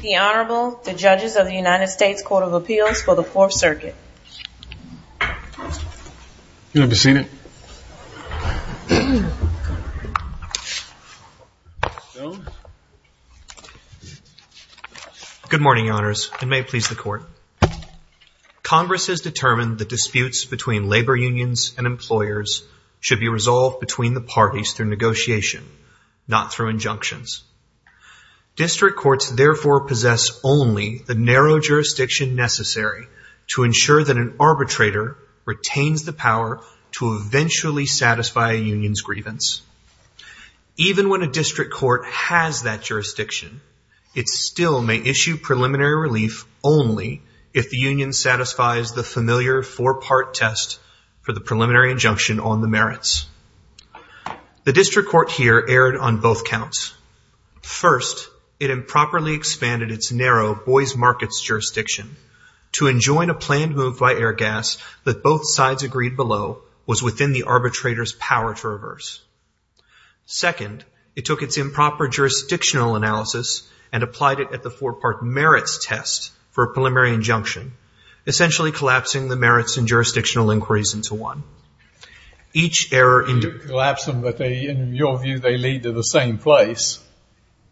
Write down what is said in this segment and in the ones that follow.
The Honorable, the Judges of the United States Court of Appeals for the Fourth Circuit. You may be seated. Good morning, Your Honors, and may it please the Court. Congress has determined that disputes between labor unions and employers should be resolved between the parties through negotiation, not through injunctions. District courts therefore possess only the narrow jurisdiction necessary to ensure that an arbitrator retains the power to eventually satisfy a union's grievance. Even when a district court has that jurisdiction, it still may issue preliminary relief only if the union satisfies the familiar four-part test for the preliminary injunction on the merits. The district court here erred on both counts. First, it improperly expanded its narrow boys' markets jurisdiction to enjoin a planned move by Airgas that both sides agreed below was within the arbitrator's power to reverse. Second, it took its improper jurisdictional analysis and applied it at the four-part merits test for a preliminary injunction, essentially collapsing the merits and jurisdictional inquiries into one. Each error in the You collapse them, but in your view, they lead to the same place,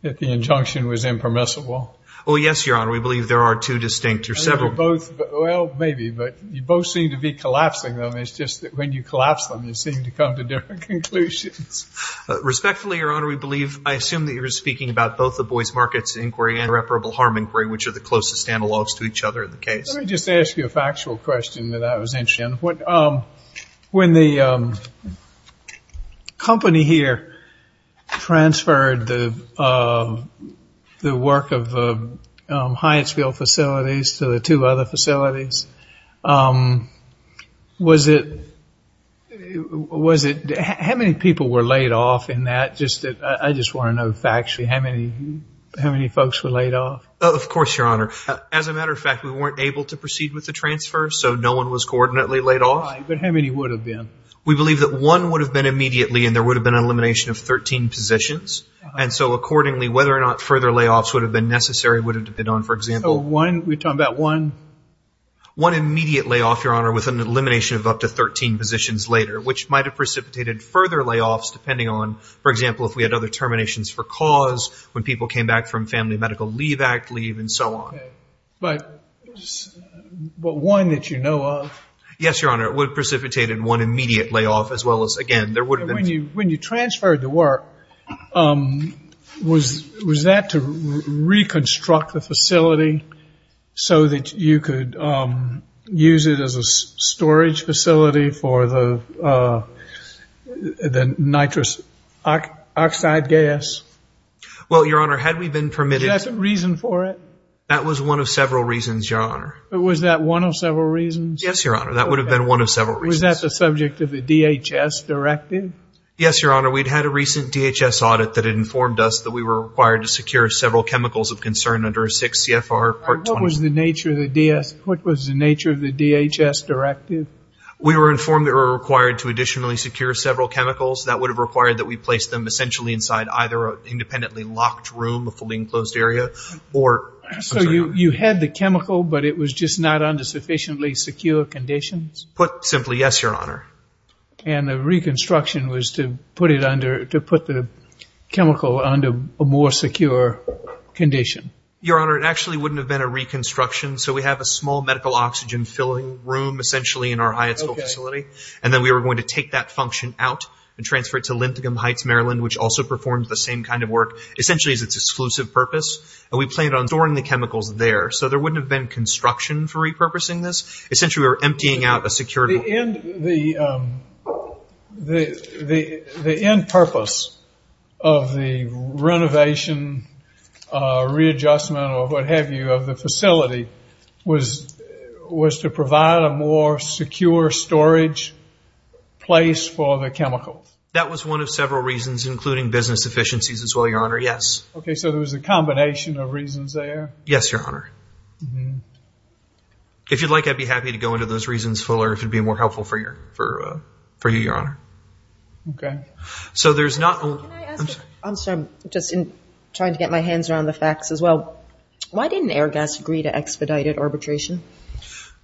that the injunction was impermissible. Oh, yes, Your Honor. We believe there are two distinct or several Well, maybe, but you both seem to be collapsing them. It's just that when you collapse them, you seem to come to different conclusions. Respectfully, Your Honor, we believe, I assume that you're speaking about both the boys' markets inquiry and irreparable harm inquiry, which are the closest analogs to each other in the case. Let me just ask you a factual question that I was interested in. When the company here transferred the work of Hyattsville facilities to the two other facilities, was it How many people were laid off in that? I just want to know factually how many folks were laid off. Of course, Your Honor. As a matter of fact, we weren't able to proceed with the transfer, so no one was coordinately laid off. But how many would have been? We believe that one would have been immediately, and there would have been an elimination of 13 positions. And so accordingly, whether or not further layoffs would have been necessary would have depended on, for example So one, we're talking about one? One immediate layoff, Your Honor, with an elimination of up to 13 positions later, which might have precipitated further layoffs depending on, for example, if we had other terminations for cause, when people came back from family medical leave, act leave, and so on. But one that you know of? Yes, Your Honor. It would have precipitated one immediate layoff, as well as, again, there would have been When you transferred the work, was that to reconstruct the facility so that you could use it as a storage facility for the nitrous oxide gas? Well, Your Honor, had we been permitted Was that the reason for it? That was one of several reasons, Your Honor. Was that one of several reasons? Yes, Your Honor. That would have been one of several reasons. Was that the subject of the DHS directive? Yes, Your Honor. We'd had a recent DHS audit that had informed us that we were required to secure several chemicals of concern under 6 CFR Part 21. What was the nature of the DHS directive? We were informed that we were required to additionally secure several chemicals. That would have required that we place them essentially inside either an independently locked room, a fully enclosed area, or So you had the chemical, but it was just not under sufficiently secure conditions? Put simply, yes, Your Honor. And the reconstruction was to put the chemical under a more secure condition? Your Honor, it actually wouldn't have been a reconstruction. So we have a small medical oxygen filling room, essentially, in our Hyatt School facility. And then we were going to take that function out and transfer it to Linthicum Heights, Maryland, which also performs the same kind of work, essentially as its exclusive purpose. And we planned on storing the chemicals there. So there wouldn't have been construction for repurposing this. Essentially, we were emptying out a security. The end purpose of the renovation, readjustment, or what have you, of the facility was to provide a more secure storage place for the chemicals? That was one of several reasons, including business efficiencies as well, Your Honor, yes. Okay, so there was a combination of reasons there? Yes, Your Honor. If you'd like, I'd be happy to go into those reasons, Fuller, if it would be more helpful for you, Your Honor. Okay. So there's not only ñ I'm sorry. I'm sorry. I'm just trying to get my hands around the facts as well. Why didn't Airgas agree to expedited arbitration?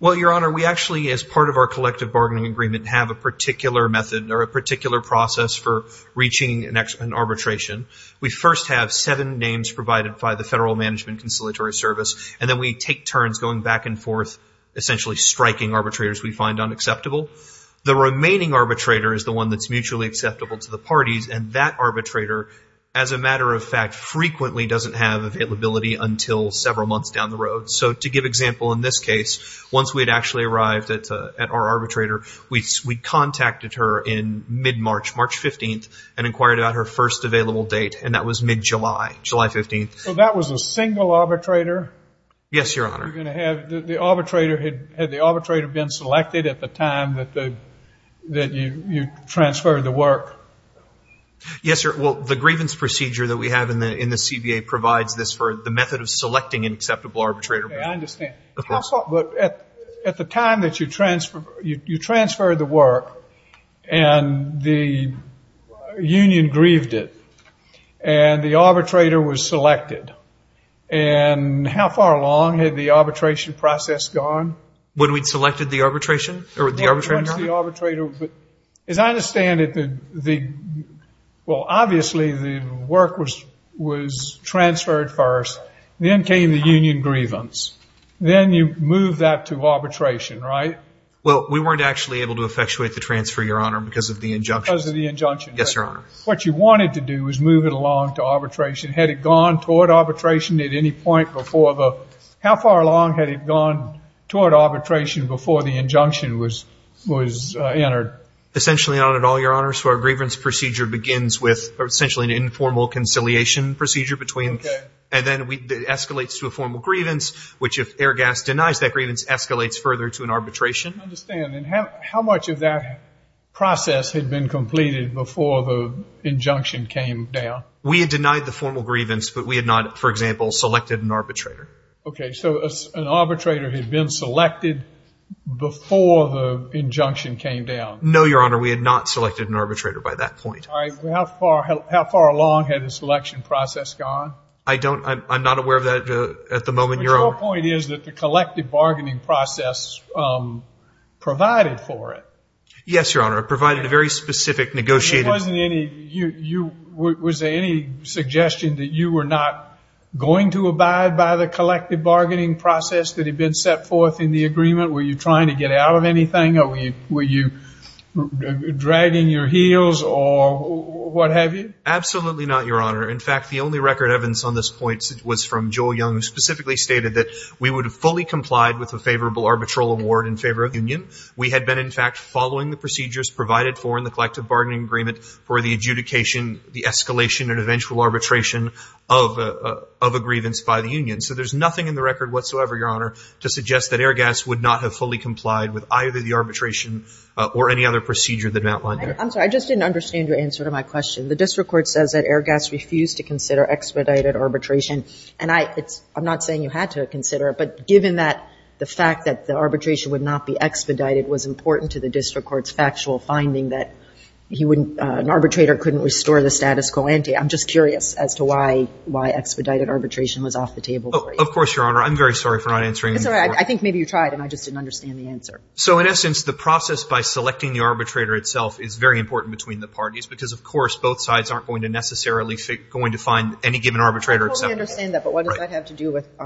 Well, Your Honor, we actually, as part of our collective bargaining agreement, have a particular method or a particular process for reaching an arbitration. We first have seven names provided by the Federal Management and Conciliatory Service, and then we take turns going back and forth, essentially striking arbitrators we find unacceptable. The remaining arbitrator is the one that's mutually acceptable to the parties, and that arbitrator, as a matter of fact, frequently doesn't have availability until several months down the road. So to give example, in this case, once we had actually arrived at our arbitrator, we contacted her in mid-March, March 15th, and inquired about her first available date, and that was mid-July, July 15th. So that was a single arbitrator? Yes, Your Honor. Had the arbitrator been selected at the time that you transferred the work? Yes, sir. Well, the grievance procedure that we have in the CBA provides this I understand. Of course. At the time that you transferred the work and the union grieved it, and the arbitrator was selected. And how far along had the arbitration process gone? When we'd selected the arbitrator? When the arbitrator was selected. As I understand it, well, obviously the work was transferred first. Then came the union grievance. Then you moved that to arbitration, right? Well, we weren't actually able to effectuate the transfer, Your Honor, because of the injunction. Because of the injunction. Yes, Your Honor. What you wanted to do was move it along to arbitration. Had it gone toward arbitration at any point before the How far along had it gone toward arbitration before the injunction was entered? Essentially not at all, Your Honor. So our grievance procedure begins with essentially an informal conciliation procedure and then it escalates to a formal grievance, which if Airgas denies that grievance escalates further to an arbitration. I understand. And how much of that process had been completed before the injunction came down? We had denied the formal grievance, but we had not, for example, selected an arbitrator. Okay. So an arbitrator had been selected before the injunction came down. No, Your Honor. We had not selected an arbitrator by that point. How far along had the selection process gone? I'm not aware of that at the moment, Your Honor. But your point is that the collective bargaining process provided for it. Yes, Your Honor. It provided a very specific negotiated Was there any suggestion that you were not going to abide by the collective bargaining process that had been set forth in the agreement? Were you trying to get out of anything? Were you dragging your heels or what have you? Absolutely not, Your Honor. In fact, the only record evidence on this point was from Joel Young, who specifically stated that we would have fully complied with a favorable arbitral award in favor of the union. We had been, in fact, following the procedures provided for in the collective bargaining agreement for the adjudication, the escalation and eventual arbitration of a grievance by the union. So there's nothing in the record whatsoever, Your Honor, to suggest that Airgas would not have fully complied with either the arbitration or any other procedure that I've outlined here. I'm sorry. I just didn't understand your answer to my question. The district court says that Airgas refused to consider expedited arbitration. And I'm not saying you had to consider it, but given that the fact that the arbitration would not be expedited was important to the district court's factual finding that an arbitrator couldn't restore the status quo ante, I'm just curious as to why expedited arbitration was off the table for you. Of course, Your Honor. I'm very sorry for not answering your question. It's all right. I think maybe you tried, and I just didn't understand the answer. So in essence, the process by selecting the arbitrator itself is very important between the parties because, of course, both sides aren't going to necessarily going to find any given arbitrator except for Airgas. I totally understand that, but what does that have to do with –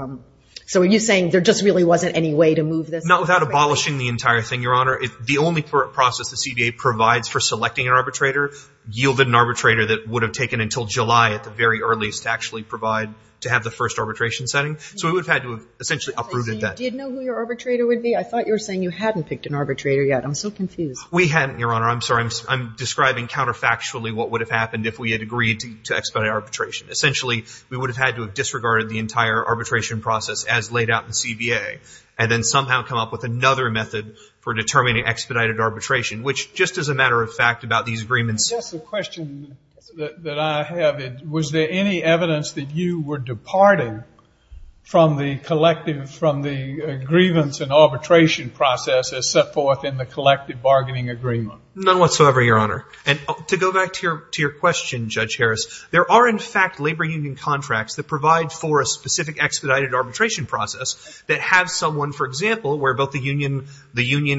so are you saying there just really wasn't any way to move this? Not without abolishing the entire thing, Your Honor. The only process the CDA provides for selecting an arbitrator yielded an arbitrator that would have taken until July at the very earliest to actually provide to have the first arbitration setting. So we would have had to have essentially uprooted that. So you did know who your arbitrator would be? I thought you were saying you hadn't picked an arbitrator yet. I'm so confused. We hadn't, Your Honor. I'm sorry. I'm describing counterfactually what would have happened if we had agreed to expedite arbitration. Essentially, we would have had to have disregarded the entire arbitration process as laid out in CBA and then somehow come up with another method for determining expedited arbitration, which just as a matter of fact about these agreements – I guess the question that I have, was there any evidence that you were departing from the grievance and arbitration process as set forth in the collective bargaining agreement? None whatsoever, Your Honor. And to go back to your question, Judge Harris, there are in fact labor union contracts that provide for a specific expedited arbitration process that have someone, for example, where both the union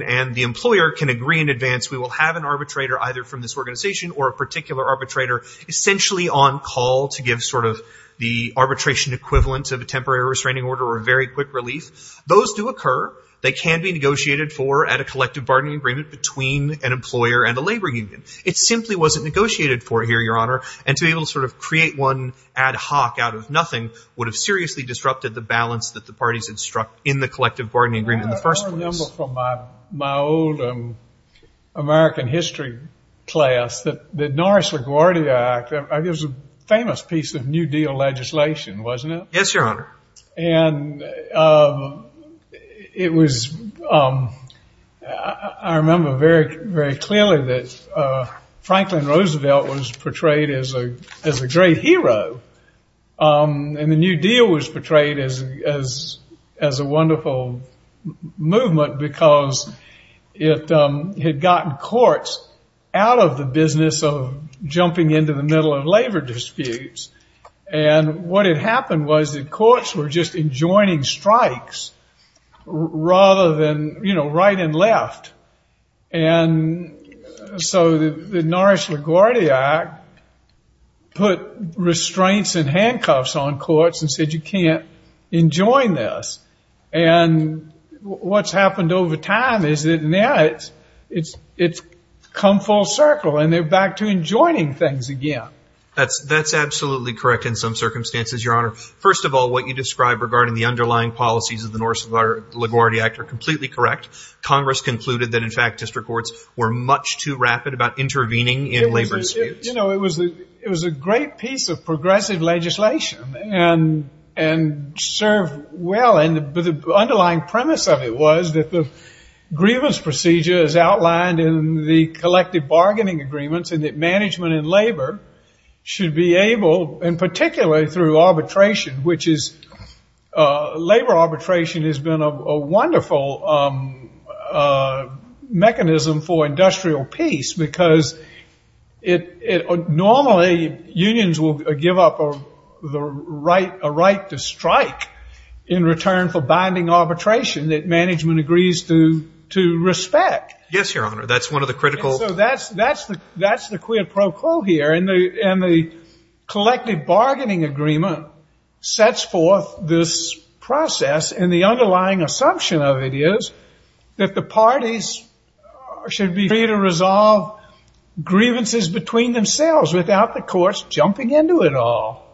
and the employer can agree in advance, we will have an arbitrator either from this organization or a particular arbitrator essentially on call to give sort of the arbitration equivalent of a temporary restraining order or a very quick relief. Those do occur. They can be negotiated for at a collective bargaining agreement between an employer and a labor union. It simply wasn't negotiated for here, Your Honor, and to be able to sort of create one ad hoc out of nothing would have seriously disrupted the balance that the parties had struck in the collective bargaining agreement in the first place. I remember from my old American history class that the Norris LaGuardia Act, it was a famous piece of New Deal legislation, wasn't it? Yes, Your Honor. And it was, I remember very, very clearly that Franklin Roosevelt was portrayed as a great hero, and the New Deal was portrayed as a wonderful movement because it had gotten courts out of the business of jumping into the middle of labor disputes, and what had happened was that courts were just enjoining strikes rather than, you know, right and left. And so the Norris LaGuardia Act put restraining orders on the points and handcuffs on courts and said you can't enjoin this. And what's happened over time is that now it's come full circle, and they're back to enjoining things again. That's absolutely correct in some circumstances, Your Honor. First of all, what you describe regarding the underlying policies of the Norris LaGuardia Act are completely correct. Congress concluded that, in fact, district courts were much too rapid about intervening in labor disputes. You know, it was a great piece of progressive legislation and served well, but the underlying premise of it was that the grievance procedure, as outlined in the collective bargaining agreements, and that management and labor should be able, in particular through arbitration, which is labor arbitration has been a wonderful mechanism for industrial peace because normally unions will give up a right to strike in return for binding arbitration that management agrees to respect. Yes, Your Honor. That's one of the critical. And so that's the quid pro quo here, and the collective bargaining agreement sets forth this process, and the underlying assumption of it is that the parties should be free to resolve grievances between themselves without the courts jumping into it all.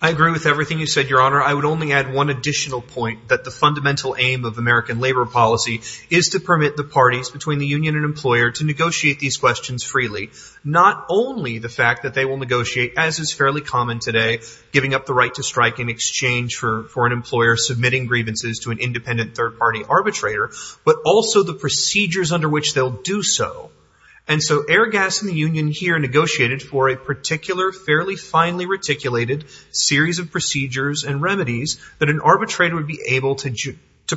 I agree with everything you said, Your Honor. I would only add one additional point, that the fundamental aim of American labor policy is to permit the parties between the union and employer to negotiate these questions freely, not only the fact that they will negotiate, as is fairly common today, giving up the right to strike in exchange for an employer submitting grievances to an independent third party arbitrator, but also the procedures under which they'll do so. And so Airgas and the union here negotiated for a particular, fairly finely reticulated series of procedures and remedies that an arbitrator would be able to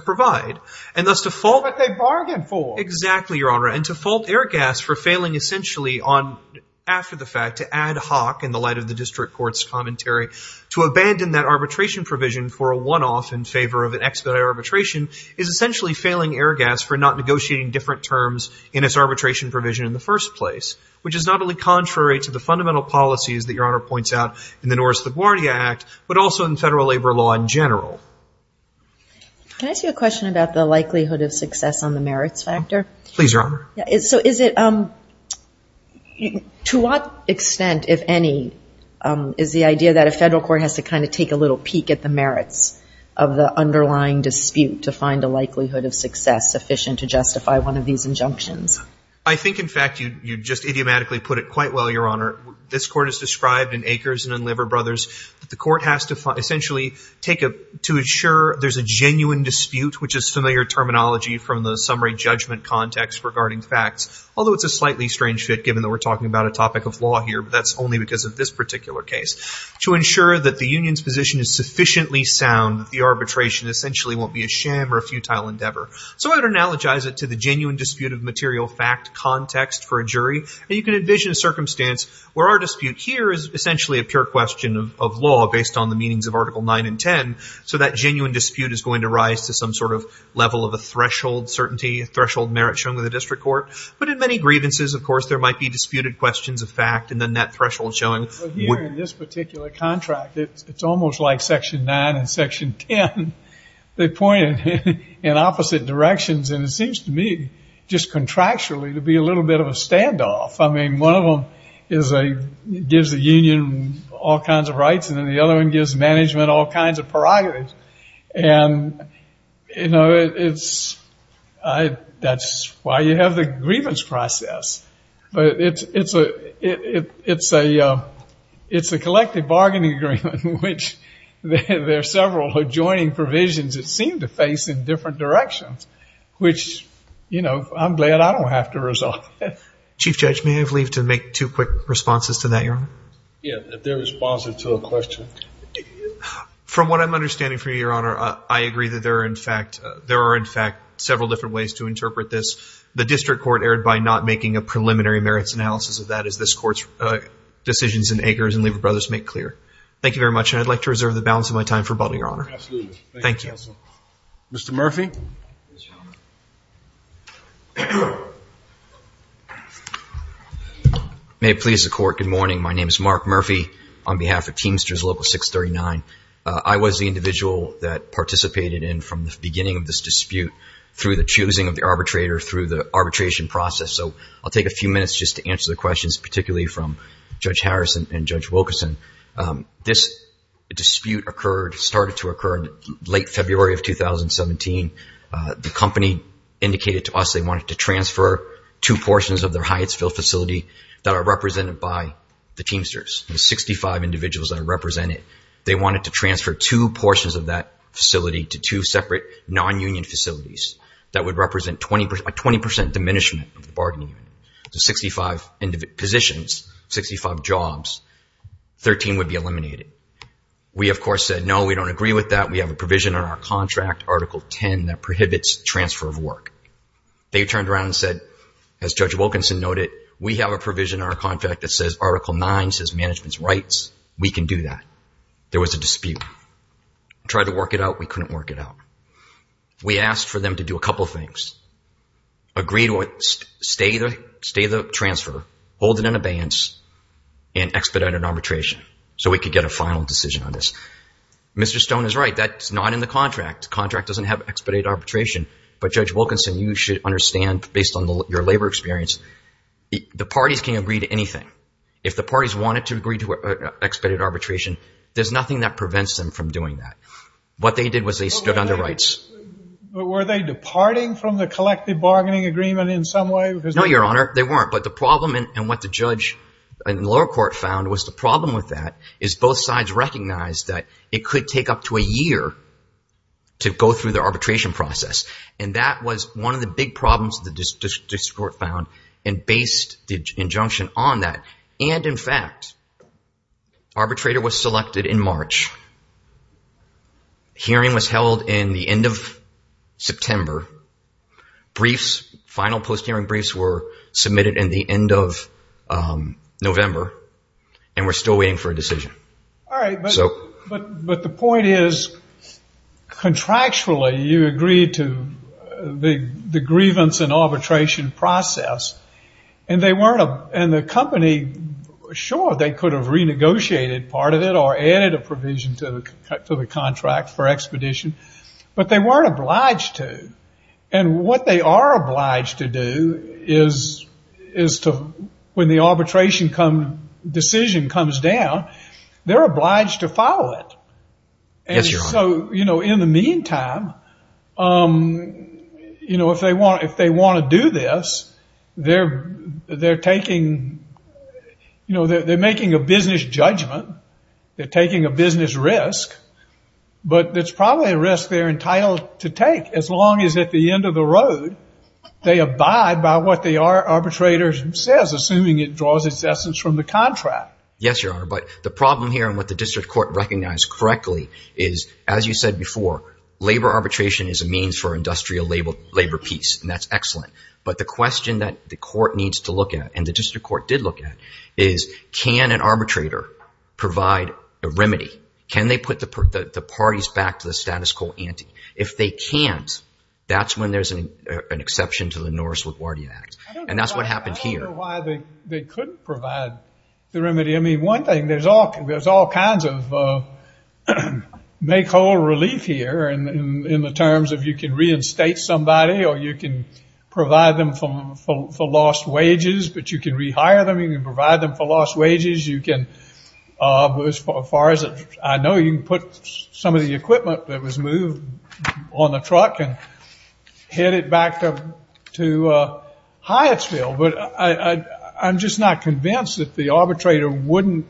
provide. But they bargained for. Exactly, Your Honor. And to fault Airgas for failing essentially on, after the fact to ad hoc in the light of the district court's commentary, to abandon that arbitration provision for a one-off in favor of an expedited arbitration is essentially failing Airgas for not negotiating different terms in its arbitration provision in the first place, which is not only contrary to the fundamental policies that Your Honor points out in the Norris-LaGuardia Act, but also in federal labor law in general. Can I ask you a question about the likelihood of success on the merits factor? Please, Your Honor. So is it, to what extent, if any, is the idea that a federal court has to kind of take a little peek at the dispute to find a likelihood of success sufficient to justify one of these injunctions? I think, in fact, you just idiomatically put it quite well, Your Honor. This Court has described in Akers and in Liver Brothers that the court has to essentially take a, to ensure there's a genuine dispute, which is familiar terminology from the summary judgment context regarding facts, although it's a slightly strange fit, given that we're talking about a topic of law here, but that's only because of this particular case. To ensure that the union's position is sufficiently sound, that the arbitration essentially won't be a sham or a futile endeavor. So I would analogize it to the genuine dispute of material fact context for a jury. And you can envision a circumstance where our dispute here is essentially a pure question of law based on the meanings of Article 9 and 10. So that genuine dispute is going to rise to some sort of level of a threshold certainty, a threshold merit shown with the district court. But in many grievances, of course, there might be disputed questions of fact and then that threshold showing. Here in this particular contract, it's almost like Section 9 and Section 10. They pointed in opposite directions. And it seems to me just contractually to be a little bit of a standoff. I mean, one of them gives the union all kinds of rights and then the other one gives management all kinds of prerogatives. And, you know, that's why you have the grievance process. But it's a collective bargaining agreement in which there are several adjoining provisions that seem to face in different directions, which, you know, I'm glad I don't have to resolve that. Chief Judge, may I have leave to make two quick responses to that, Your Honor? Yeah, if they're responsive to a question. From what I'm understanding from you, Your Honor, I agree that there are in fact several different ways to interpret this. The District Court erred by not making a preliminary merits analysis of that as this Court's decisions in Akers and Lever Brothers make clear. Thank you very much. And I'd like to reserve the balance of my time for rebuttal, Your Honor. Absolutely. Thank you, Counsel. Mr. Murphy? Yes, Your Honor. May it please the Court, good morning. My name is Mark Murphy on behalf of Teamsters Local 639. I was the individual that participated in from the beginning of this dispute through the choosing of the arbitrator, through the arbitration process. So I'll take a few minutes just to answer the questions, particularly from Judge Harris and Judge Wilkerson. This dispute started to occur in late February of 2017. The company indicated to us they wanted to transfer two portions of their Hyattsville facility that are represented by the Teamsters, the 65 individuals that are represented. They wanted to transfer two portions of that facility to two separate non-union facilities that would represent a 20% diminishment of the bargaining unit. So 65 positions, 65 jobs, 13 would be eliminated. We, of course, said no, we don't agree with that. We have a provision in our contract, Article 10, that prohibits transfer of work. They turned around and said, as Judge Wilkerson noted, we have a provision in our contract that says Article 9 says management's rights. We can do that. There was a dispute. Tried to work it out. We couldn't work it out. We asked for them to do a couple of things. Agree to stay the transfer, hold it in abeyance, and expedite an arbitration so we could get a final decision on this. Mr. Stone is right. That's not in the contract. The contract doesn't have expedited arbitration. But, Judge Wilkerson, you should understand, based on your labor experience, the parties can agree to anything. If the parties wanted to agree to expedited arbitration, there's nothing that prevents them from doing that. What they did was they stood on their rights. Were they departing from the collective bargaining agreement in some way? No, Your Honor, they weren't. But the problem, and what the judge and lower court found was the problem with that is both sides recognized that it could take up to a year to go through the arbitration process. And that was one of the big problems the district court found and based the injunction on that. And, in fact, arbitrator was selected in March. Hearing was held in the end of September. Briefs, final post-hearing briefs were submitted in the end of November, and we're still waiting for a decision. All right, but the point is contractually you agreed to the grievance and arbitration process, and the company, sure, they could have renegotiated part of it or added a provision to the contract for expedition, but they weren't obliged to. And what they are obliged to do is when the arbitration decision comes down, they're obliged to follow it. Yes, Your Honor. So, you know, in the meantime, you know, if they want to do this, they're taking, you know, they're making a business judgment, they're taking a business risk, but it's probably a risk they're entitled to take as long as at the end of the road they abide by what the arbitrator says, assuming it draws its essence from the contract. Yes, Your Honor, but the problem here and what the district court recognized correctly is, as you said before, labor arbitration is a means for industrial labor peace, and that's excellent. But the question that the court needs to look at, and the district court did look at, is can an arbitrator provide a remedy? Can they put the parties back to the status quo ante? If they can't, that's when there's an exception to the Norris LaGuardia Act, and that's what happened here. I don't know why they couldn't provide the remedy. I mean, one thing, there's all kinds of make whole relief here in the terms of you can reinstate somebody or you can provide them for lost wages, but you can rehire them, you can provide them for lost wages, you can, as far as I know, you can put some of the equipment that was moved on the truck and head it back to Hyattsville. But I'm just not convinced that the arbitrator wouldn't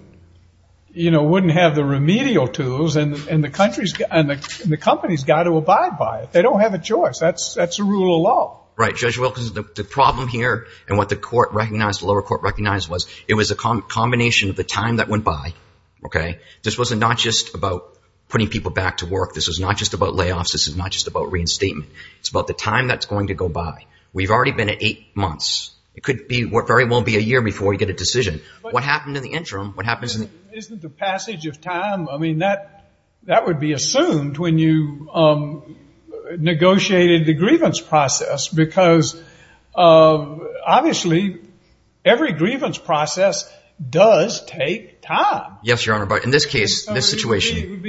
have the remedial tools and the company's got to abide by it. They don't have a choice. That's a rule of law. Right, Judge Wilkins. The problem here and what the lower court recognized was it was a combination of the time that went by. This wasn't not just about putting people back to work. This was not just about layoffs. This was not just about reinstatement. It's about the time that's going to go by. We've already been at eight months. It could very well be a year before we get a decision. What happened in the interim? Isn't the passage of time, I mean, that would be assumed when you negotiated the grievance process because obviously every grievance process does take time. Yes, Your Honor, but in this case, this situation.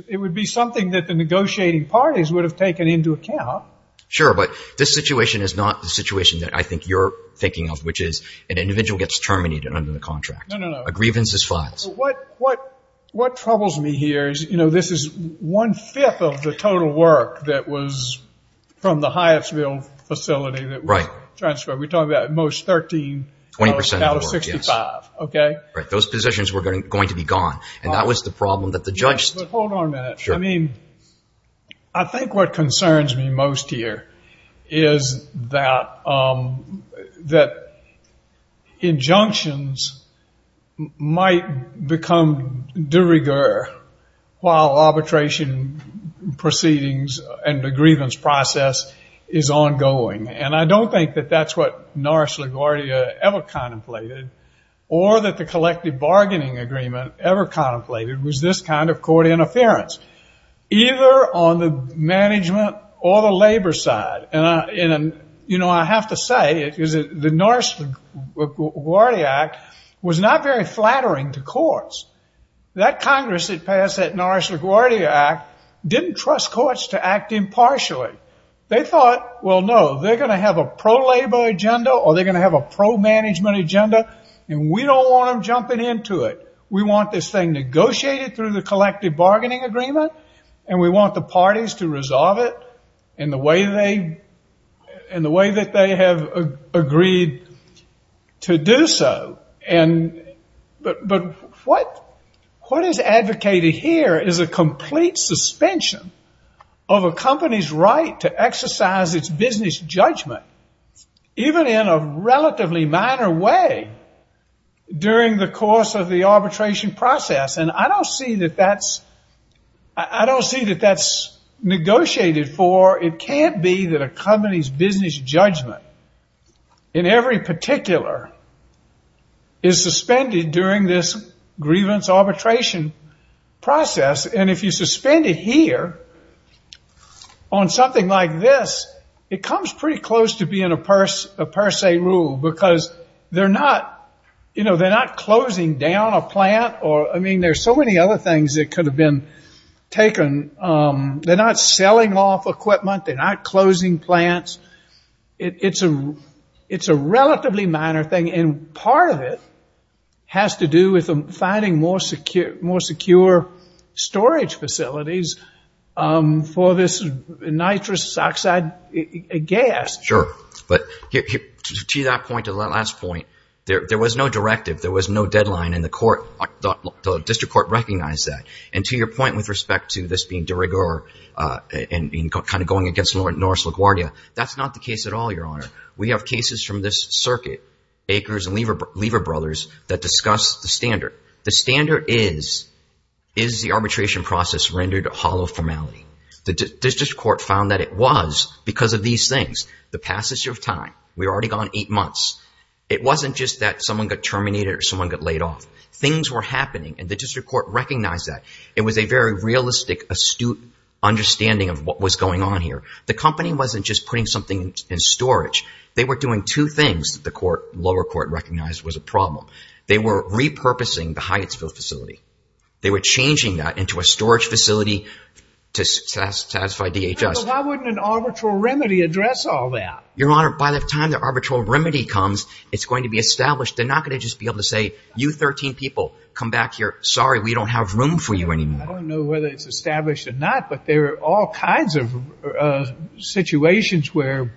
It would be something that the negotiating parties would have taken into account. Sure, but this situation is not the situation that I think you're thinking of, which is an individual gets terminated under the contract. No, no, no. A grievance is filed. What troubles me here is, you know, this is one-fifth of the total work that was from the Hyattsville facility. Right. We're talking about at most 13. Twenty percent of the work, yes. Out of 65, okay? Right. Those positions were going to be gone, and that was the problem that the judge. Yes, but hold on a minute. Sure. I mean, I think what concerns me most here is that injunctions might become de rigueur while arbitration proceedings and the grievance process is ongoing, and I don't think that that's what Norris LaGuardia ever contemplated or that the collective bargaining agreement ever contemplated was this kind of court interference, either on the management or the labor side. You know, I have to say the Norris LaGuardia Act was not very flattering to courts. That Congress that passed that Norris LaGuardia Act didn't trust courts to act impartially. They thought, well, no, they're going to have a pro-labor agenda or they're going to have a pro-management agenda, and we don't want them jumping into it. We want this thing negotiated through the collective bargaining agreement, and we want the parties to resolve it in the way that they have agreed to do so. But what is advocated here is a complete suspension of a company's right to exercise its business judgment, even in a relatively minor way during the course of the arbitration process, and I don't see that that's negotiated for. It can't be that a company's business judgment in every particular is suspended during this grievance arbitration process, and if you suspend it here on something like this, it comes pretty close to being a per se rule because they're not closing down a plant. I mean, there's so many other things that could have been taken. They're not selling off equipment. They're not closing plants. It's a relatively minor thing, and part of it has to do with finding more secure storage facilities for this nitrous oxide gas. Sure, but to that point, to that last point, there was no directive. There was no deadline, and the court, the district court recognized that, and to your point with respect to this being de rigueur and kind of going against Norris LaGuardia, that's not the case at all, Your Honor. We have cases from this circuit, Akers and Lever Brothers, that discuss the standard. The standard is, is the arbitration process rendered hollow formality? The district court found that it was because of these things, the passage of time. We were already gone eight months. It wasn't just that someone got terminated or someone got laid off. Things were happening, and the district court recognized that. It was a very realistic, astute understanding of what was going on here. The company wasn't just putting something in storage. They were doing two things that the lower court recognized was a problem. They were repurposing the Hyattsville facility. They were changing that into a storage facility to satisfy DHS. Why wouldn't an arbitral remedy address all that? Your Honor, by the time the arbitral remedy comes, it's going to be established. They're not going to just be able to say, you 13 people, come back here. Sorry, we don't have room for you anymore. I don't know whether it's established or not, but there are all kinds of situations where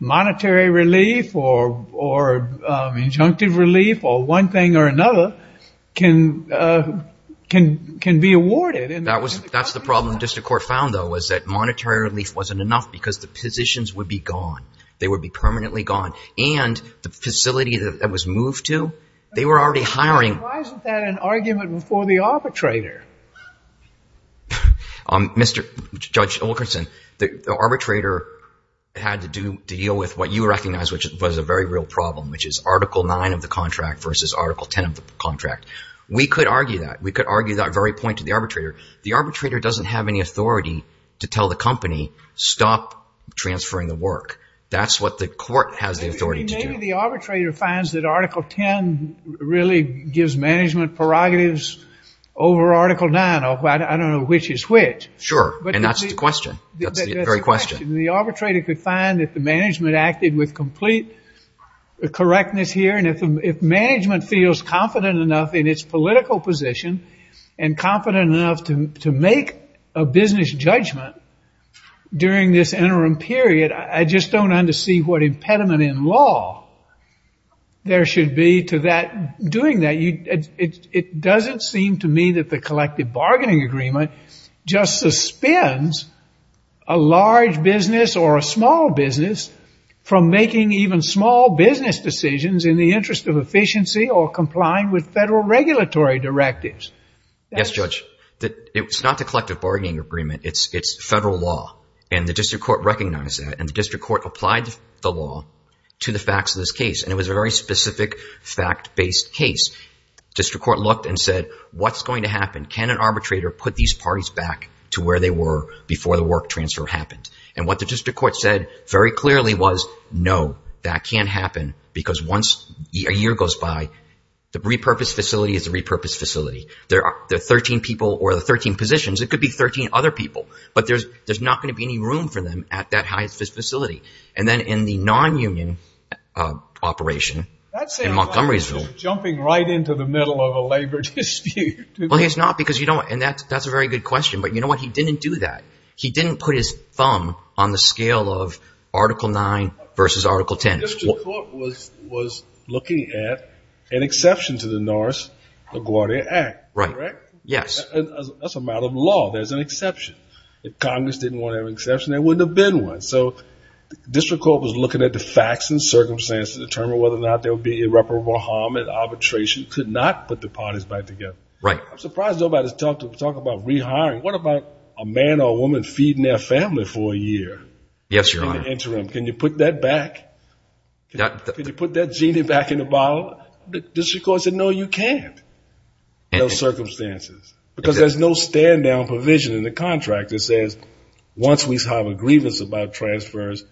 monetary relief or injunctive relief or one thing or another can be awarded. That's the problem the district court found, though, was that monetary relief wasn't enough because the positions would be gone. They would be permanently gone, and the facility that was moved to, they were already hiring. Why isn't that an argument before the arbitrator? Mr. Judge Olkerson, the arbitrator had to deal with what you recognize was a very real problem, which is Article 9 of the contract versus Article 10 of the contract. We could argue that. We could argue that very point to the arbitrator. The arbitrator doesn't have any authority to tell the company, stop transferring the work. That's what the court has the authority to do. Maybe the arbitrator finds that Article 10 really gives management prerogatives over Article 9. I don't know which is which. Sure, and that's the question. That's the very question. The arbitrator could find that the management acted with complete correctness here, and if management feels confident enough in its political position and confident enough to make a business judgment during this interim period, I just don't understand what impediment in law there should be to doing that. It doesn't seem to me that the collective bargaining agreement just suspends a large business or a small business from making even small business decisions in the interest of efficiency or complying with federal regulatory directives. Yes, Judge. It's not the collective bargaining agreement. It's federal law, and the district court recognized that, and the district court applied the law to the facts of this case, and it was a very specific fact-based case. The district court looked and said, what's going to happen? Can an arbitrator put these parties back to where they were before the work transfer happened? And what the district court said very clearly was, no, that can't happen, because once a year goes by, the repurposed facility is a repurposed facility. There are 13 people or the 13 positions. It could be 13 other people, but there's not going to be any room for them at that facility. And then in the non-union operation in Montgomeryville. That sounds like you're jumping right into the middle of a labor dispute. Well, it's not, because you don't, and that's a very good question, but you know what? He didn't do that. He didn't put his thumb on the scale of Article 9 versus Article 10. The district court was looking at an exception to the Norris LaGuardia Act, correct? Right. Yes. That's a matter of law. There's an exception. If Congress didn't want an exception, there wouldn't have been one. So the district court was looking at the facts and circumstances to determine whether or not there would be irreparable harm and arbitration could not put the parties back together. Right. I'm surprised nobody's talked about rehiring. What about a man or a woman feeding their family for a year? Yes, Your Honor. Can you put that back? Can you put that genie back in the bottle? The district court said, no, you can't, no circumstances, because there's no stand-down provision in the contract that says, once we have a grievance about transfers,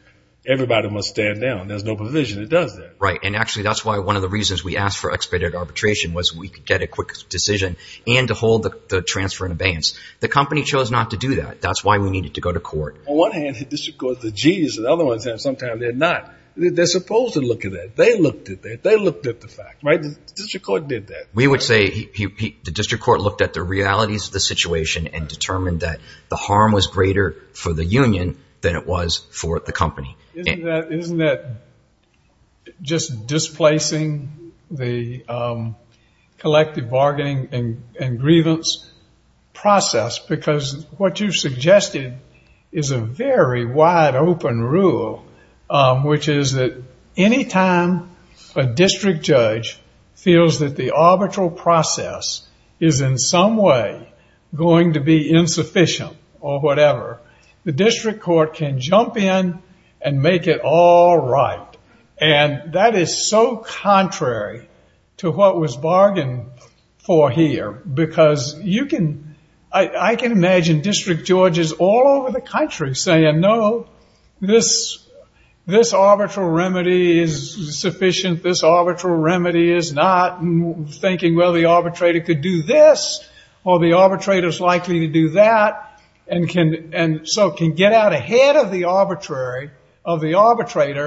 everybody must stand down. There's no provision that does that. Right, and actually that's why one of the reasons we asked for expedited arbitration was we could get a quick decision and to hold the transfer in abeyance. The company chose not to do that. That's why we needed to go to court. On one hand, the district court's a genius. On the other hand, sometimes they're not. They're supposed to look at that. They looked at that. They looked at the facts, right? The district court did that. We would say the district court looked at the realities of the situation and determined that the harm was greater for the union than it was for the company. Isn't that just displacing the collective bargaining and grievance process? Because what you suggested is a very wide-open rule, which is that any time a district judge feels that the arbitral process is, in some way, going to be insufficient or whatever, the district court can jump in and make it all right. And that is so contrary to what was bargained for here because I can imagine district judges all over the country saying, no, this arbitral remedy is sufficient. This arbitral remedy is not, thinking, well, the arbitrator could do this or the arbitrator's likely to do that, and so can get out ahead of the arbitrator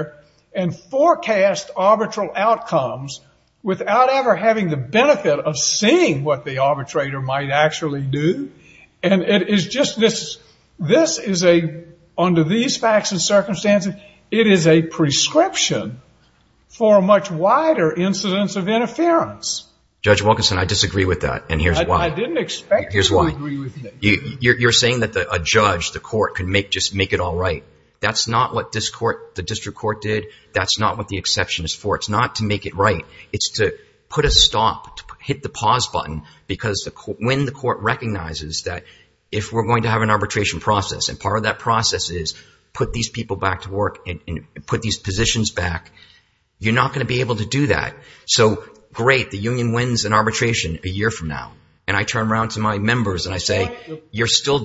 and forecast arbitral outcomes without ever having the benefit of seeing what the arbitrator might actually do. And it is just this. This is a, under these facts and circumstances, it is a prescription for a much wider incidence of interference. Judge Wilkinson, I disagree with that, and here's why. I didn't expect you to agree with me. You're saying that a judge, the court, could just make it all right. That's not what the district court did. That's not what the exception is for. It's not to make it right. It's to put a stop, to hit the pause button, because when the court recognizes that if we're going to have an arbitration process and part of that process is put these people back to work and put these positions back, you're not going to be able to do that. So, great, the union wins an arbitration a year from now. And I turn around to my members and I say, you're still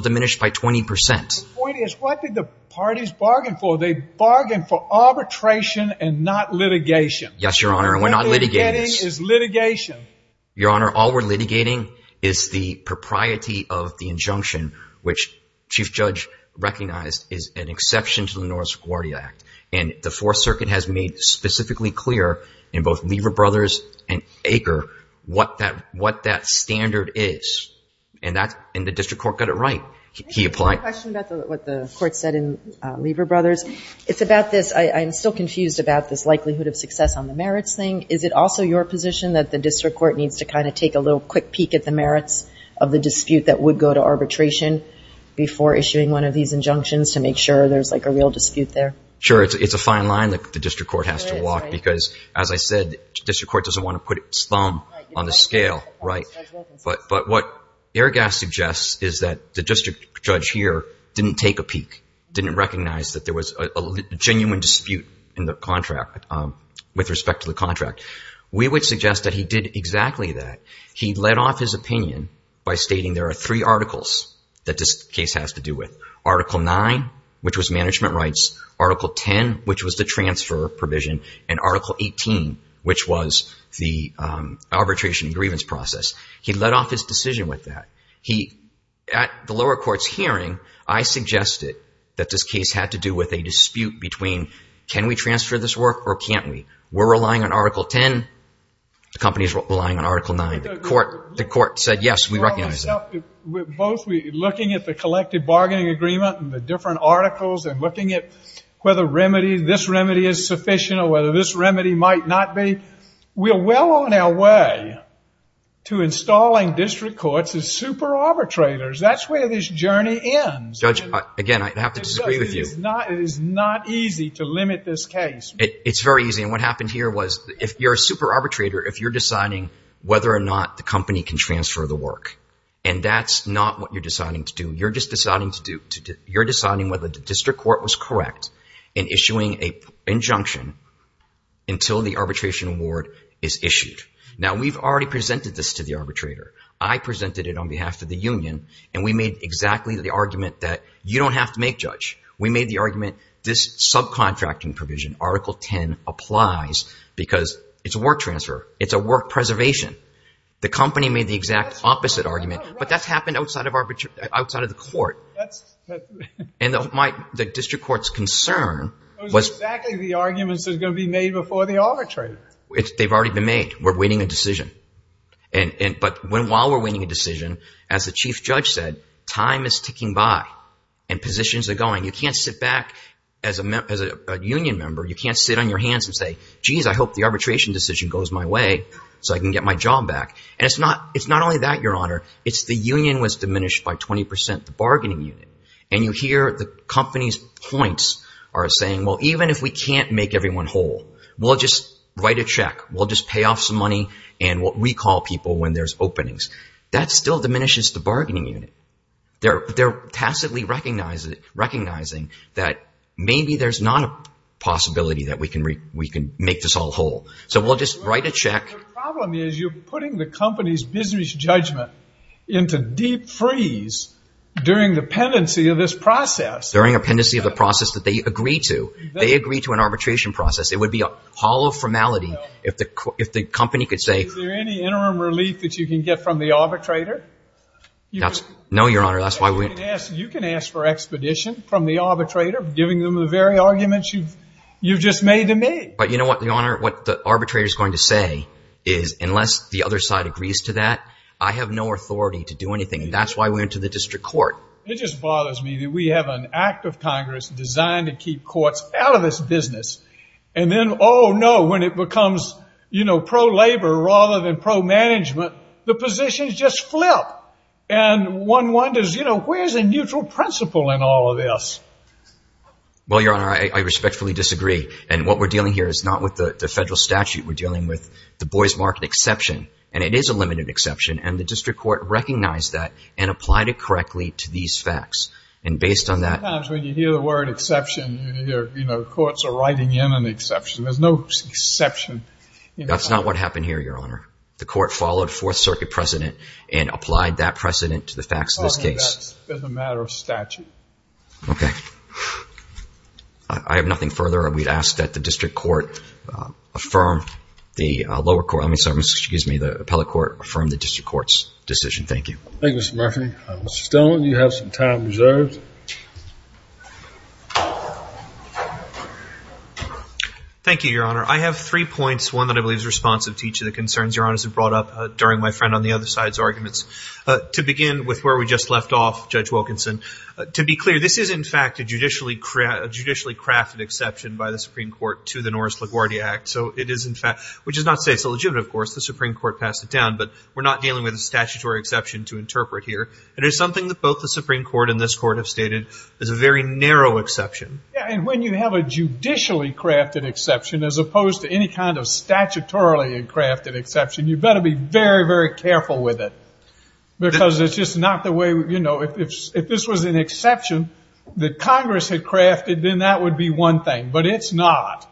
diminished by 20%. The point is, what did the parties bargain for? They bargained for arbitration and not litigation. Yes, Your Honor, and we're not litigating this. This is litigation. Your Honor, all we're litigating is the propriety of the injunction, which Chief Judge recognized is an exception to the Norris-Guardia Act, and the Fourth Circuit has made specifically clear in both Lever Brothers and Aker what that standard is, and the district court got it right. He applied. I have a question about what the court said in Lever Brothers. It's about this, I'm still confused about this likelihood of success on the merits thing. Is it also your position that the district court needs to kind of take a little quick peek at the merits of the dispute that would go to arbitration before issuing one of these injunctions to make sure there's, like, a real dispute there? Sure, it's a fine line that the district court has to walk because, as I said, district court doesn't want to put its thumb on the scale, right? But what Airgas suggests is that the district judge here didn't take a peek, didn't recognize that there was a genuine dispute in the contract with respect to the contract. We would suggest that he did exactly that. He led off his opinion by stating there are three articles that this case has to do with, Article 9, which was management rights, Article 10, which was the transfer provision, and Article 18, which was the arbitration and grievance process. He led off his decision with that. At the lower court's hearing, I suggested that this case had to do with a dispute between, can we transfer this work or can't we? We're relying on Article 10. The company's relying on Article 9. The court said, yes, we recognize that. Both looking at the collective bargaining agreement and the different articles and looking at whether this remedy is sufficient or whether this remedy might not be, we're well on our way to installing district courts as super arbitrators. That's where this journey ends. Judge, again, I have to disagree with you. It is not easy to limit this case. It's very easy, and what happened here was if you're a super arbitrator, if you're deciding whether or not the company can transfer the work, and that's not what you're deciding to do, you're just deciding whether the district court was correct in issuing an injunction until the arbitration award is issued. Now, we've already presented this to the arbitrator. I presented it on behalf of the union, and we made exactly the argument that you don't have to make, Judge. We made the argument this subcontracting provision, Article 10, applies because it's a work transfer. It's a work preservation. The company made the exact opposite argument, but that's happened outside of the court. And the district court's concern was… It was exactly the arguments that are going to be made before the arbitration. They've already been made. We're waiting a decision. But while we're waiting a decision, as the Chief Judge said, time is ticking by and positions are going. You can't sit back as a union member. You can't sit on your hands and say, geez, I hope the arbitration decision goes my way so I can get my job back. And it's not only that, Your Honor. It's the union was diminished by 20%. The bargaining unit. And you hear the company's points are saying, well, even if we can't make everyone whole, we'll just write a check. We'll just pay off some money and what we call people when there's openings. That still diminishes the bargaining unit. They're tacitly recognizing that maybe there's not a possibility that we can make this all whole. So we'll just write a check. The problem is you're putting the company's business judgment into deep freeze during the pendency of this process. During a pendency of the process that they agree to. They agree to an arbitration process. It would be a hollow formality if the company could say. Is there any interim relief that you can get from the arbitrator? No, Your Honor. That's why we. You can ask for expedition from the arbitrator, giving them the very arguments you've just made to me. But you know what, Your Honor? What the arbitrator is going to say is unless the other side agrees to that, I have no authority to do anything. And that's why we went to the district court. It just bothers me that we have an act of Congress designed to keep courts out of this business. And then, oh, no, when it becomes, you know, pro-labor rather than pro-management, the positions just flip. And one wonders, you know, where is a neutral principle in all of this? Well, Your Honor, I respectfully disagree. And what we're dealing here is not with the federal statute. We're dealing with the Boys Market exception. And it is a limited exception. And the district court recognized that and applied it correctly to these facts. And based on that. Sometimes when you hear the word exception, you hear, you know, courts are writing in an exception. There's no exception. That's not what happened here, Your Honor. The court followed Fourth Circuit precedent and applied that precedent to the facts of this case. That's a matter of statute. Okay. I have nothing further. We'd ask that the district court affirm the lower court. I'm sorry. Excuse me. The appellate court affirm the district court's decision. Thank you. Thank you, Mr. Murphy. Mr. Stillman, you have some time reserved. Thank you, Your Honor. I have three points. One that I believe is responsive to each of the concerns Your Honor has brought up during my friend on the other side's arguments. To begin with where we just left off, Judge Wilkinson. To be clear, this is, in fact, a judicially crafted exception by the Supreme Court to the Norris-LaGuardia Act. So it is, in fact, which does not say it's illegitimate, of course. The Supreme Court passed it down. But we're not dealing with a statutory exception to interpret here. It is something that both the Supreme Court and this Court have stated is a very narrow exception. Yeah, and when you have a judicially crafted exception as opposed to any kind of statutorily crafted exception, you better be very, very careful with it because it's just not the way, you know, if this was an exception that Congress had crafted, then that would be one thing. But it's not.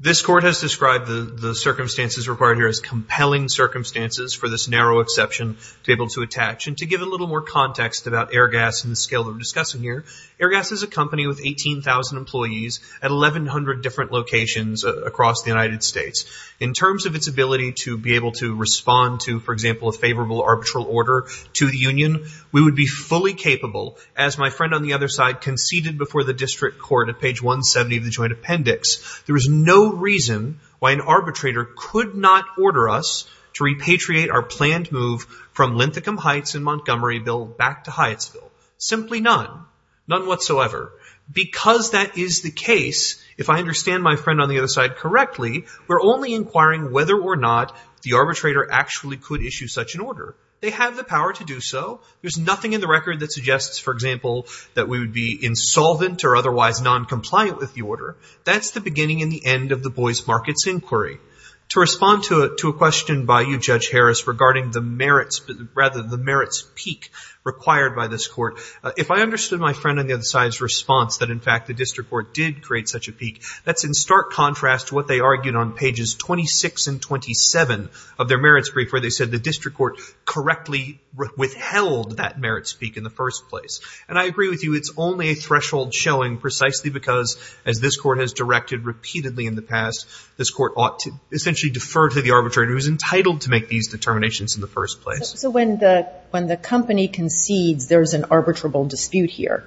This Court has described the circumstances required here as compelling circumstances for this narrow exception to be able to attach. And to give a little more context about Airgas and the scale that we're discussing here, Airgas is a company with 18,000 employees at 1,100 different locations across the United States. In terms of its ability to be able to respond to, for example, a favorable arbitral order to the union, we would be fully capable, as my friend on the other side conceded before the district court at page 170 of the joint appendix, there is no reason why an arbitrator could not order us to repatriate our planned move from Linthicum Heights and Montgomeryville back to Hyattsville. Simply none. None whatsoever. Because that is the case, if I understand my friend on the other side correctly, we're only inquiring whether or not the arbitrator actually could issue such an order. They have the power to do so. There's nothing in the record that suggests, for example, that we would be insolvent or otherwise noncompliant with the order. That's the beginning and the end of the Boyce-Markets Inquiry. To respond to a question by you, Judge Harris, regarding the merits peak required by this Court, if I understood my friend on the other side's response that, in fact, the district court did create such a peak, that's in stark contrast to what they argued on pages 26 and 27 of their merits brief, where they said the district court correctly withheld that merits peak in the first place. And I agree with you. It's only a threshold showing precisely because, as this Court has directed repeatedly in the past, this Court ought to essentially defer to the arbitrator who is entitled to make these determinations in the first place. So when the company concedes there's an arbitrable dispute here,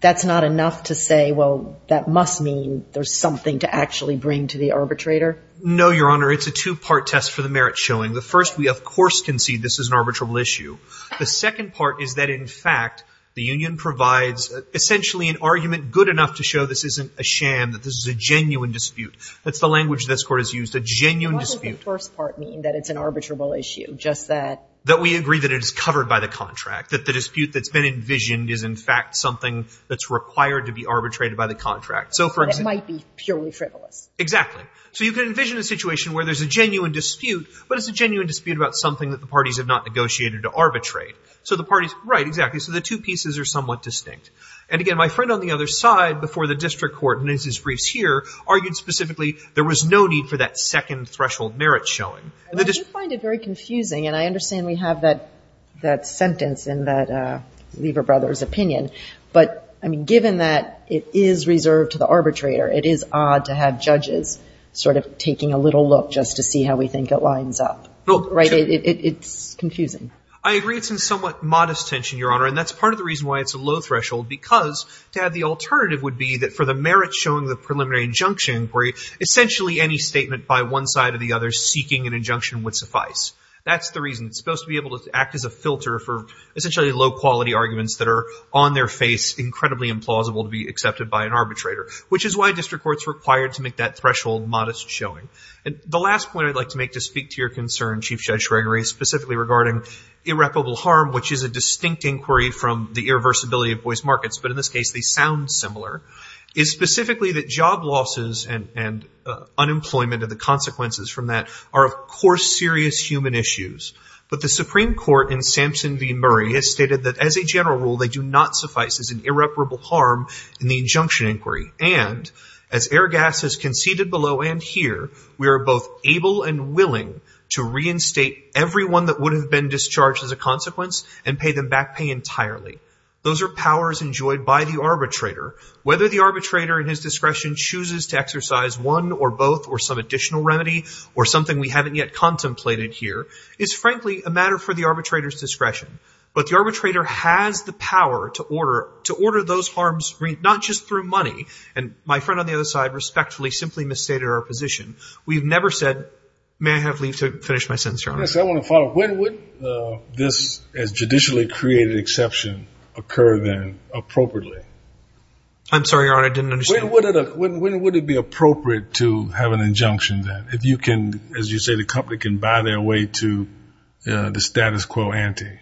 that's not enough to say, well, that must mean there's something to actually bring to the arbitrator? No, Your Honor. It's a two-part test for the merits showing. The first, we, of course, concede this is an arbitrable issue. The second part is that, in fact, the union provides essentially an argument good enough to show this isn't a sham, that this is a genuine dispute. That's the language this Court has used, a genuine dispute. What does the first part mean, that it's an arbitrable issue, just that? That we agree that it is covered by the contract, that the dispute that's been envisioned is, in fact, something that's required to be arbitrated by the contract. So, for example — It might be purely frivolous. Exactly. So you can envision a situation where there's a genuine dispute, but it's a genuine dispute about something that the parties have not negotiated to arbitrate. So the parties — right, exactly. So the two pieces are somewhat distinct. And, again, my friend on the other side, before the district court in his briefs here, argued specifically there was no need for that second threshold merit showing. I do find it very confusing, and I understand we have that sentence in that Lever brothers' opinion. But, I mean, given that it is reserved to the arbitrator, it is odd to have judges sort of taking a little look just to see how we think it lines up. Right? It's confusing. I agree it's in somewhat modest tension, Your Honor, and that's part of the reason why it's a low threshold, because to have the alternative would be that for the merit showing, the preliminary injunction inquiry, essentially any statement by one side or the other seeking an injunction would suffice. That's the reason. It's supposed to be able to act as a filter for, essentially, low-quality arguments that are on their face, incredibly implausible to be accepted by an arbitrator, which is why district courts are required to make that threshold modest showing. The last point I'd like to make to speak to your concern, Chief Judge Gregory, specifically regarding irreparable harm, which is a distinct inquiry from the irreversibility of voice markets, but in this case they sound similar, is specifically that job losses and unemployment and the consequences from that are, of course, serious human issues. But the Supreme Court in Sampson v. Murray has stated that as a general rule, they do not suffice as an irreparable harm in the injunction inquiry. And as Airgas has conceded below and here, we are both able and willing to reinstate everyone that would have been discharged as a consequence and pay them back pay entirely. Those are powers enjoyed by the arbitrator. Whether the arbitrator in his discretion chooses to exercise one or both or some additional remedy or something we haven't yet contemplated here, it's frankly a matter for the arbitrator's discretion. But the arbitrator has the power to order those harms, not just through money. And my friend on the other side respectfully simply misstated our position. We've never said, may I have leave to finish my sentence, Your Honor? Yes, I want to follow up. When would this as judicially created exception occur then appropriately? I'm sorry, Your Honor, I didn't understand. When would it be appropriate to have an injunction then if you can, as you say, the company can buy their way to the status quo ante?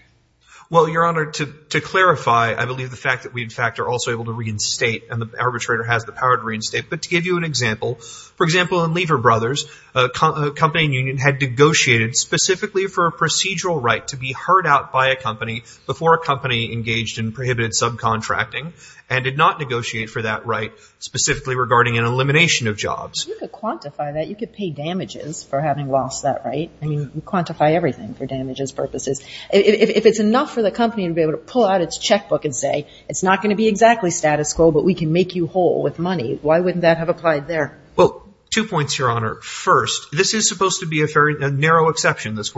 Well, Your Honor, to clarify, I believe the fact that we in fact are also able to reinstate and the arbitrator has the power to reinstate. But to give you an example, for example, in Lever Brothers, a company and union had negotiated specifically for a procedural right to be heard out by a company before a company engaged in prohibited subcontracting and did not negotiate for that right specifically regarding an elimination of jobs. You could quantify that. You could pay damages for having lost that right. I mean, you quantify everything for damages purposes. If it's enough for the company to be able to pull out its checkbook and say, it's not going to be exactly status quo, but we can make you whole with money, why wouldn't that have applied there? Well, two points, Your Honor. First, this is supposed to be a very narrow exception. So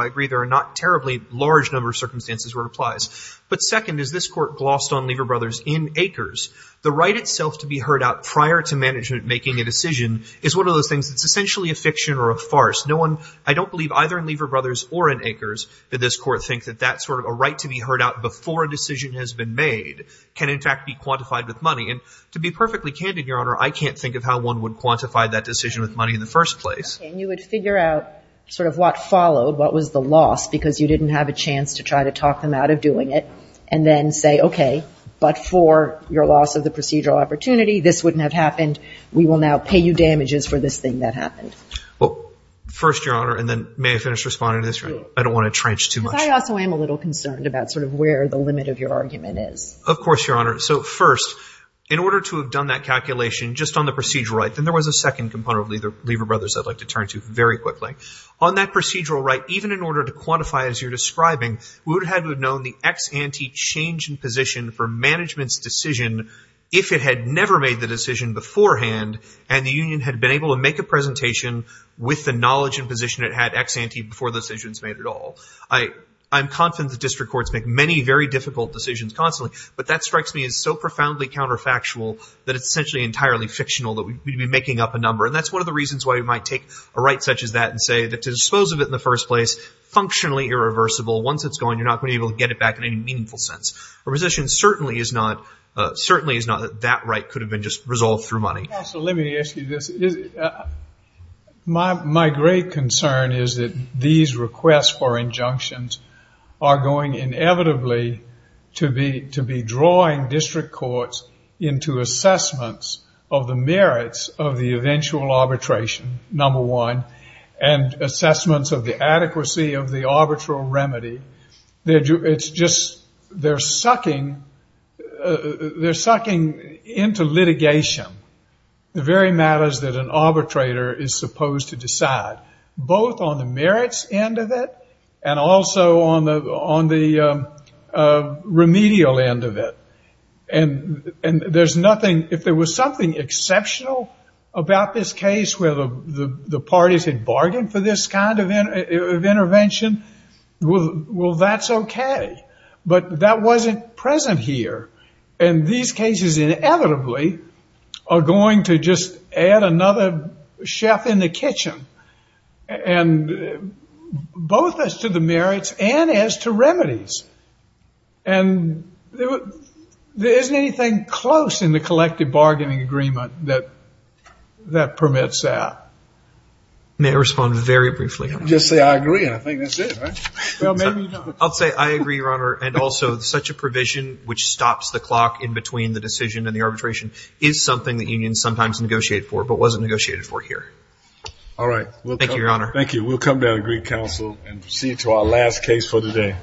I agree there are not terribly large number of circumstances where it applies. But second, as this Court glossed on Lever Brothers in Acres, the right itself to be heard out prior to management making a decision is one of those things that's essentially a fiction or a farce. No one, I don't believe either in Lever Brothers or in Acres, that this Court thinks that that sort of a right to be heard out before a decision has been made can in fact be quantified with money. And to be perfectly candid, Your Honor, I can't think of how one would quantify that decision with money in the first place. And you would figure out sort of what followed, what was the loss, because you didn't have a chance to try to talk them out of doing it, and then say, okay, but for your loss of the procedural opportunity, this wouldn't have happened, we will now pay you damages for this thing that happened. Well, first, Your Honor, and then may I finish responding to this? I don't want to trench too much. Because I also am a little concerned about sort of where the limit of your argument is. Of course, Your Honor. So first, in order to have done that calculation just on the procedural right, then there was a second component of Lever Brothers I'd like to turn to very quickly. On that procedural right, even in order to quantify as you're describing, we would have known the ex ante change in position for management's decision if it had never made the decision beforehand and the union had been able to make a presentation with the knowledge and position it had ex ante before the decision was made at all. I'm confident that district courts make many very difficult decisions constantly, but that strikes me as so profoundly counterfactual that it's essentially entirely fictional that we'd be making up a number. And that's one of the reasons why you might take a right such as that and say that to dispose of it in the first place, functionally irreversible. Once it's gone, you're not going to be able to get it back in any meaningful sense. Our position certainly is not that that right could have been just resolved through money. So let me ask you this. My great concern is that these requests for injunctions are going inevitably to be drawing district courts into assessments of the merits of the eventual arbitration, number one, and assessments of the adequacy of the arbitral remedy. They're sucking into litigation the very matters that an arbitrator is supposed to decide, both on the merits end of it and also on the remedial end of it. And there's nothing, if there was something exceptional about this case where the parties had bargained for this kind of intervention, well, that's okay. But that wasn't present here. And these cases inevitably are going to just add another chef in the kitchen, and both as to the merits and as to remedies. And there isn't anything close in the collective bargaining agreement that permits that. May I respond very briefly? Just say I agree, and I think that's it, right? Well, maybe not. I'll say I agree, Your Honor, and also such a provision which stops the clock in between the decision and the arbitration is something that unions sometimes negotiate for but wasn't negotiated for here. All right. Thank you, Your Honor. Thank you. We'll come down to Greek Council and proceed to our last case for the day.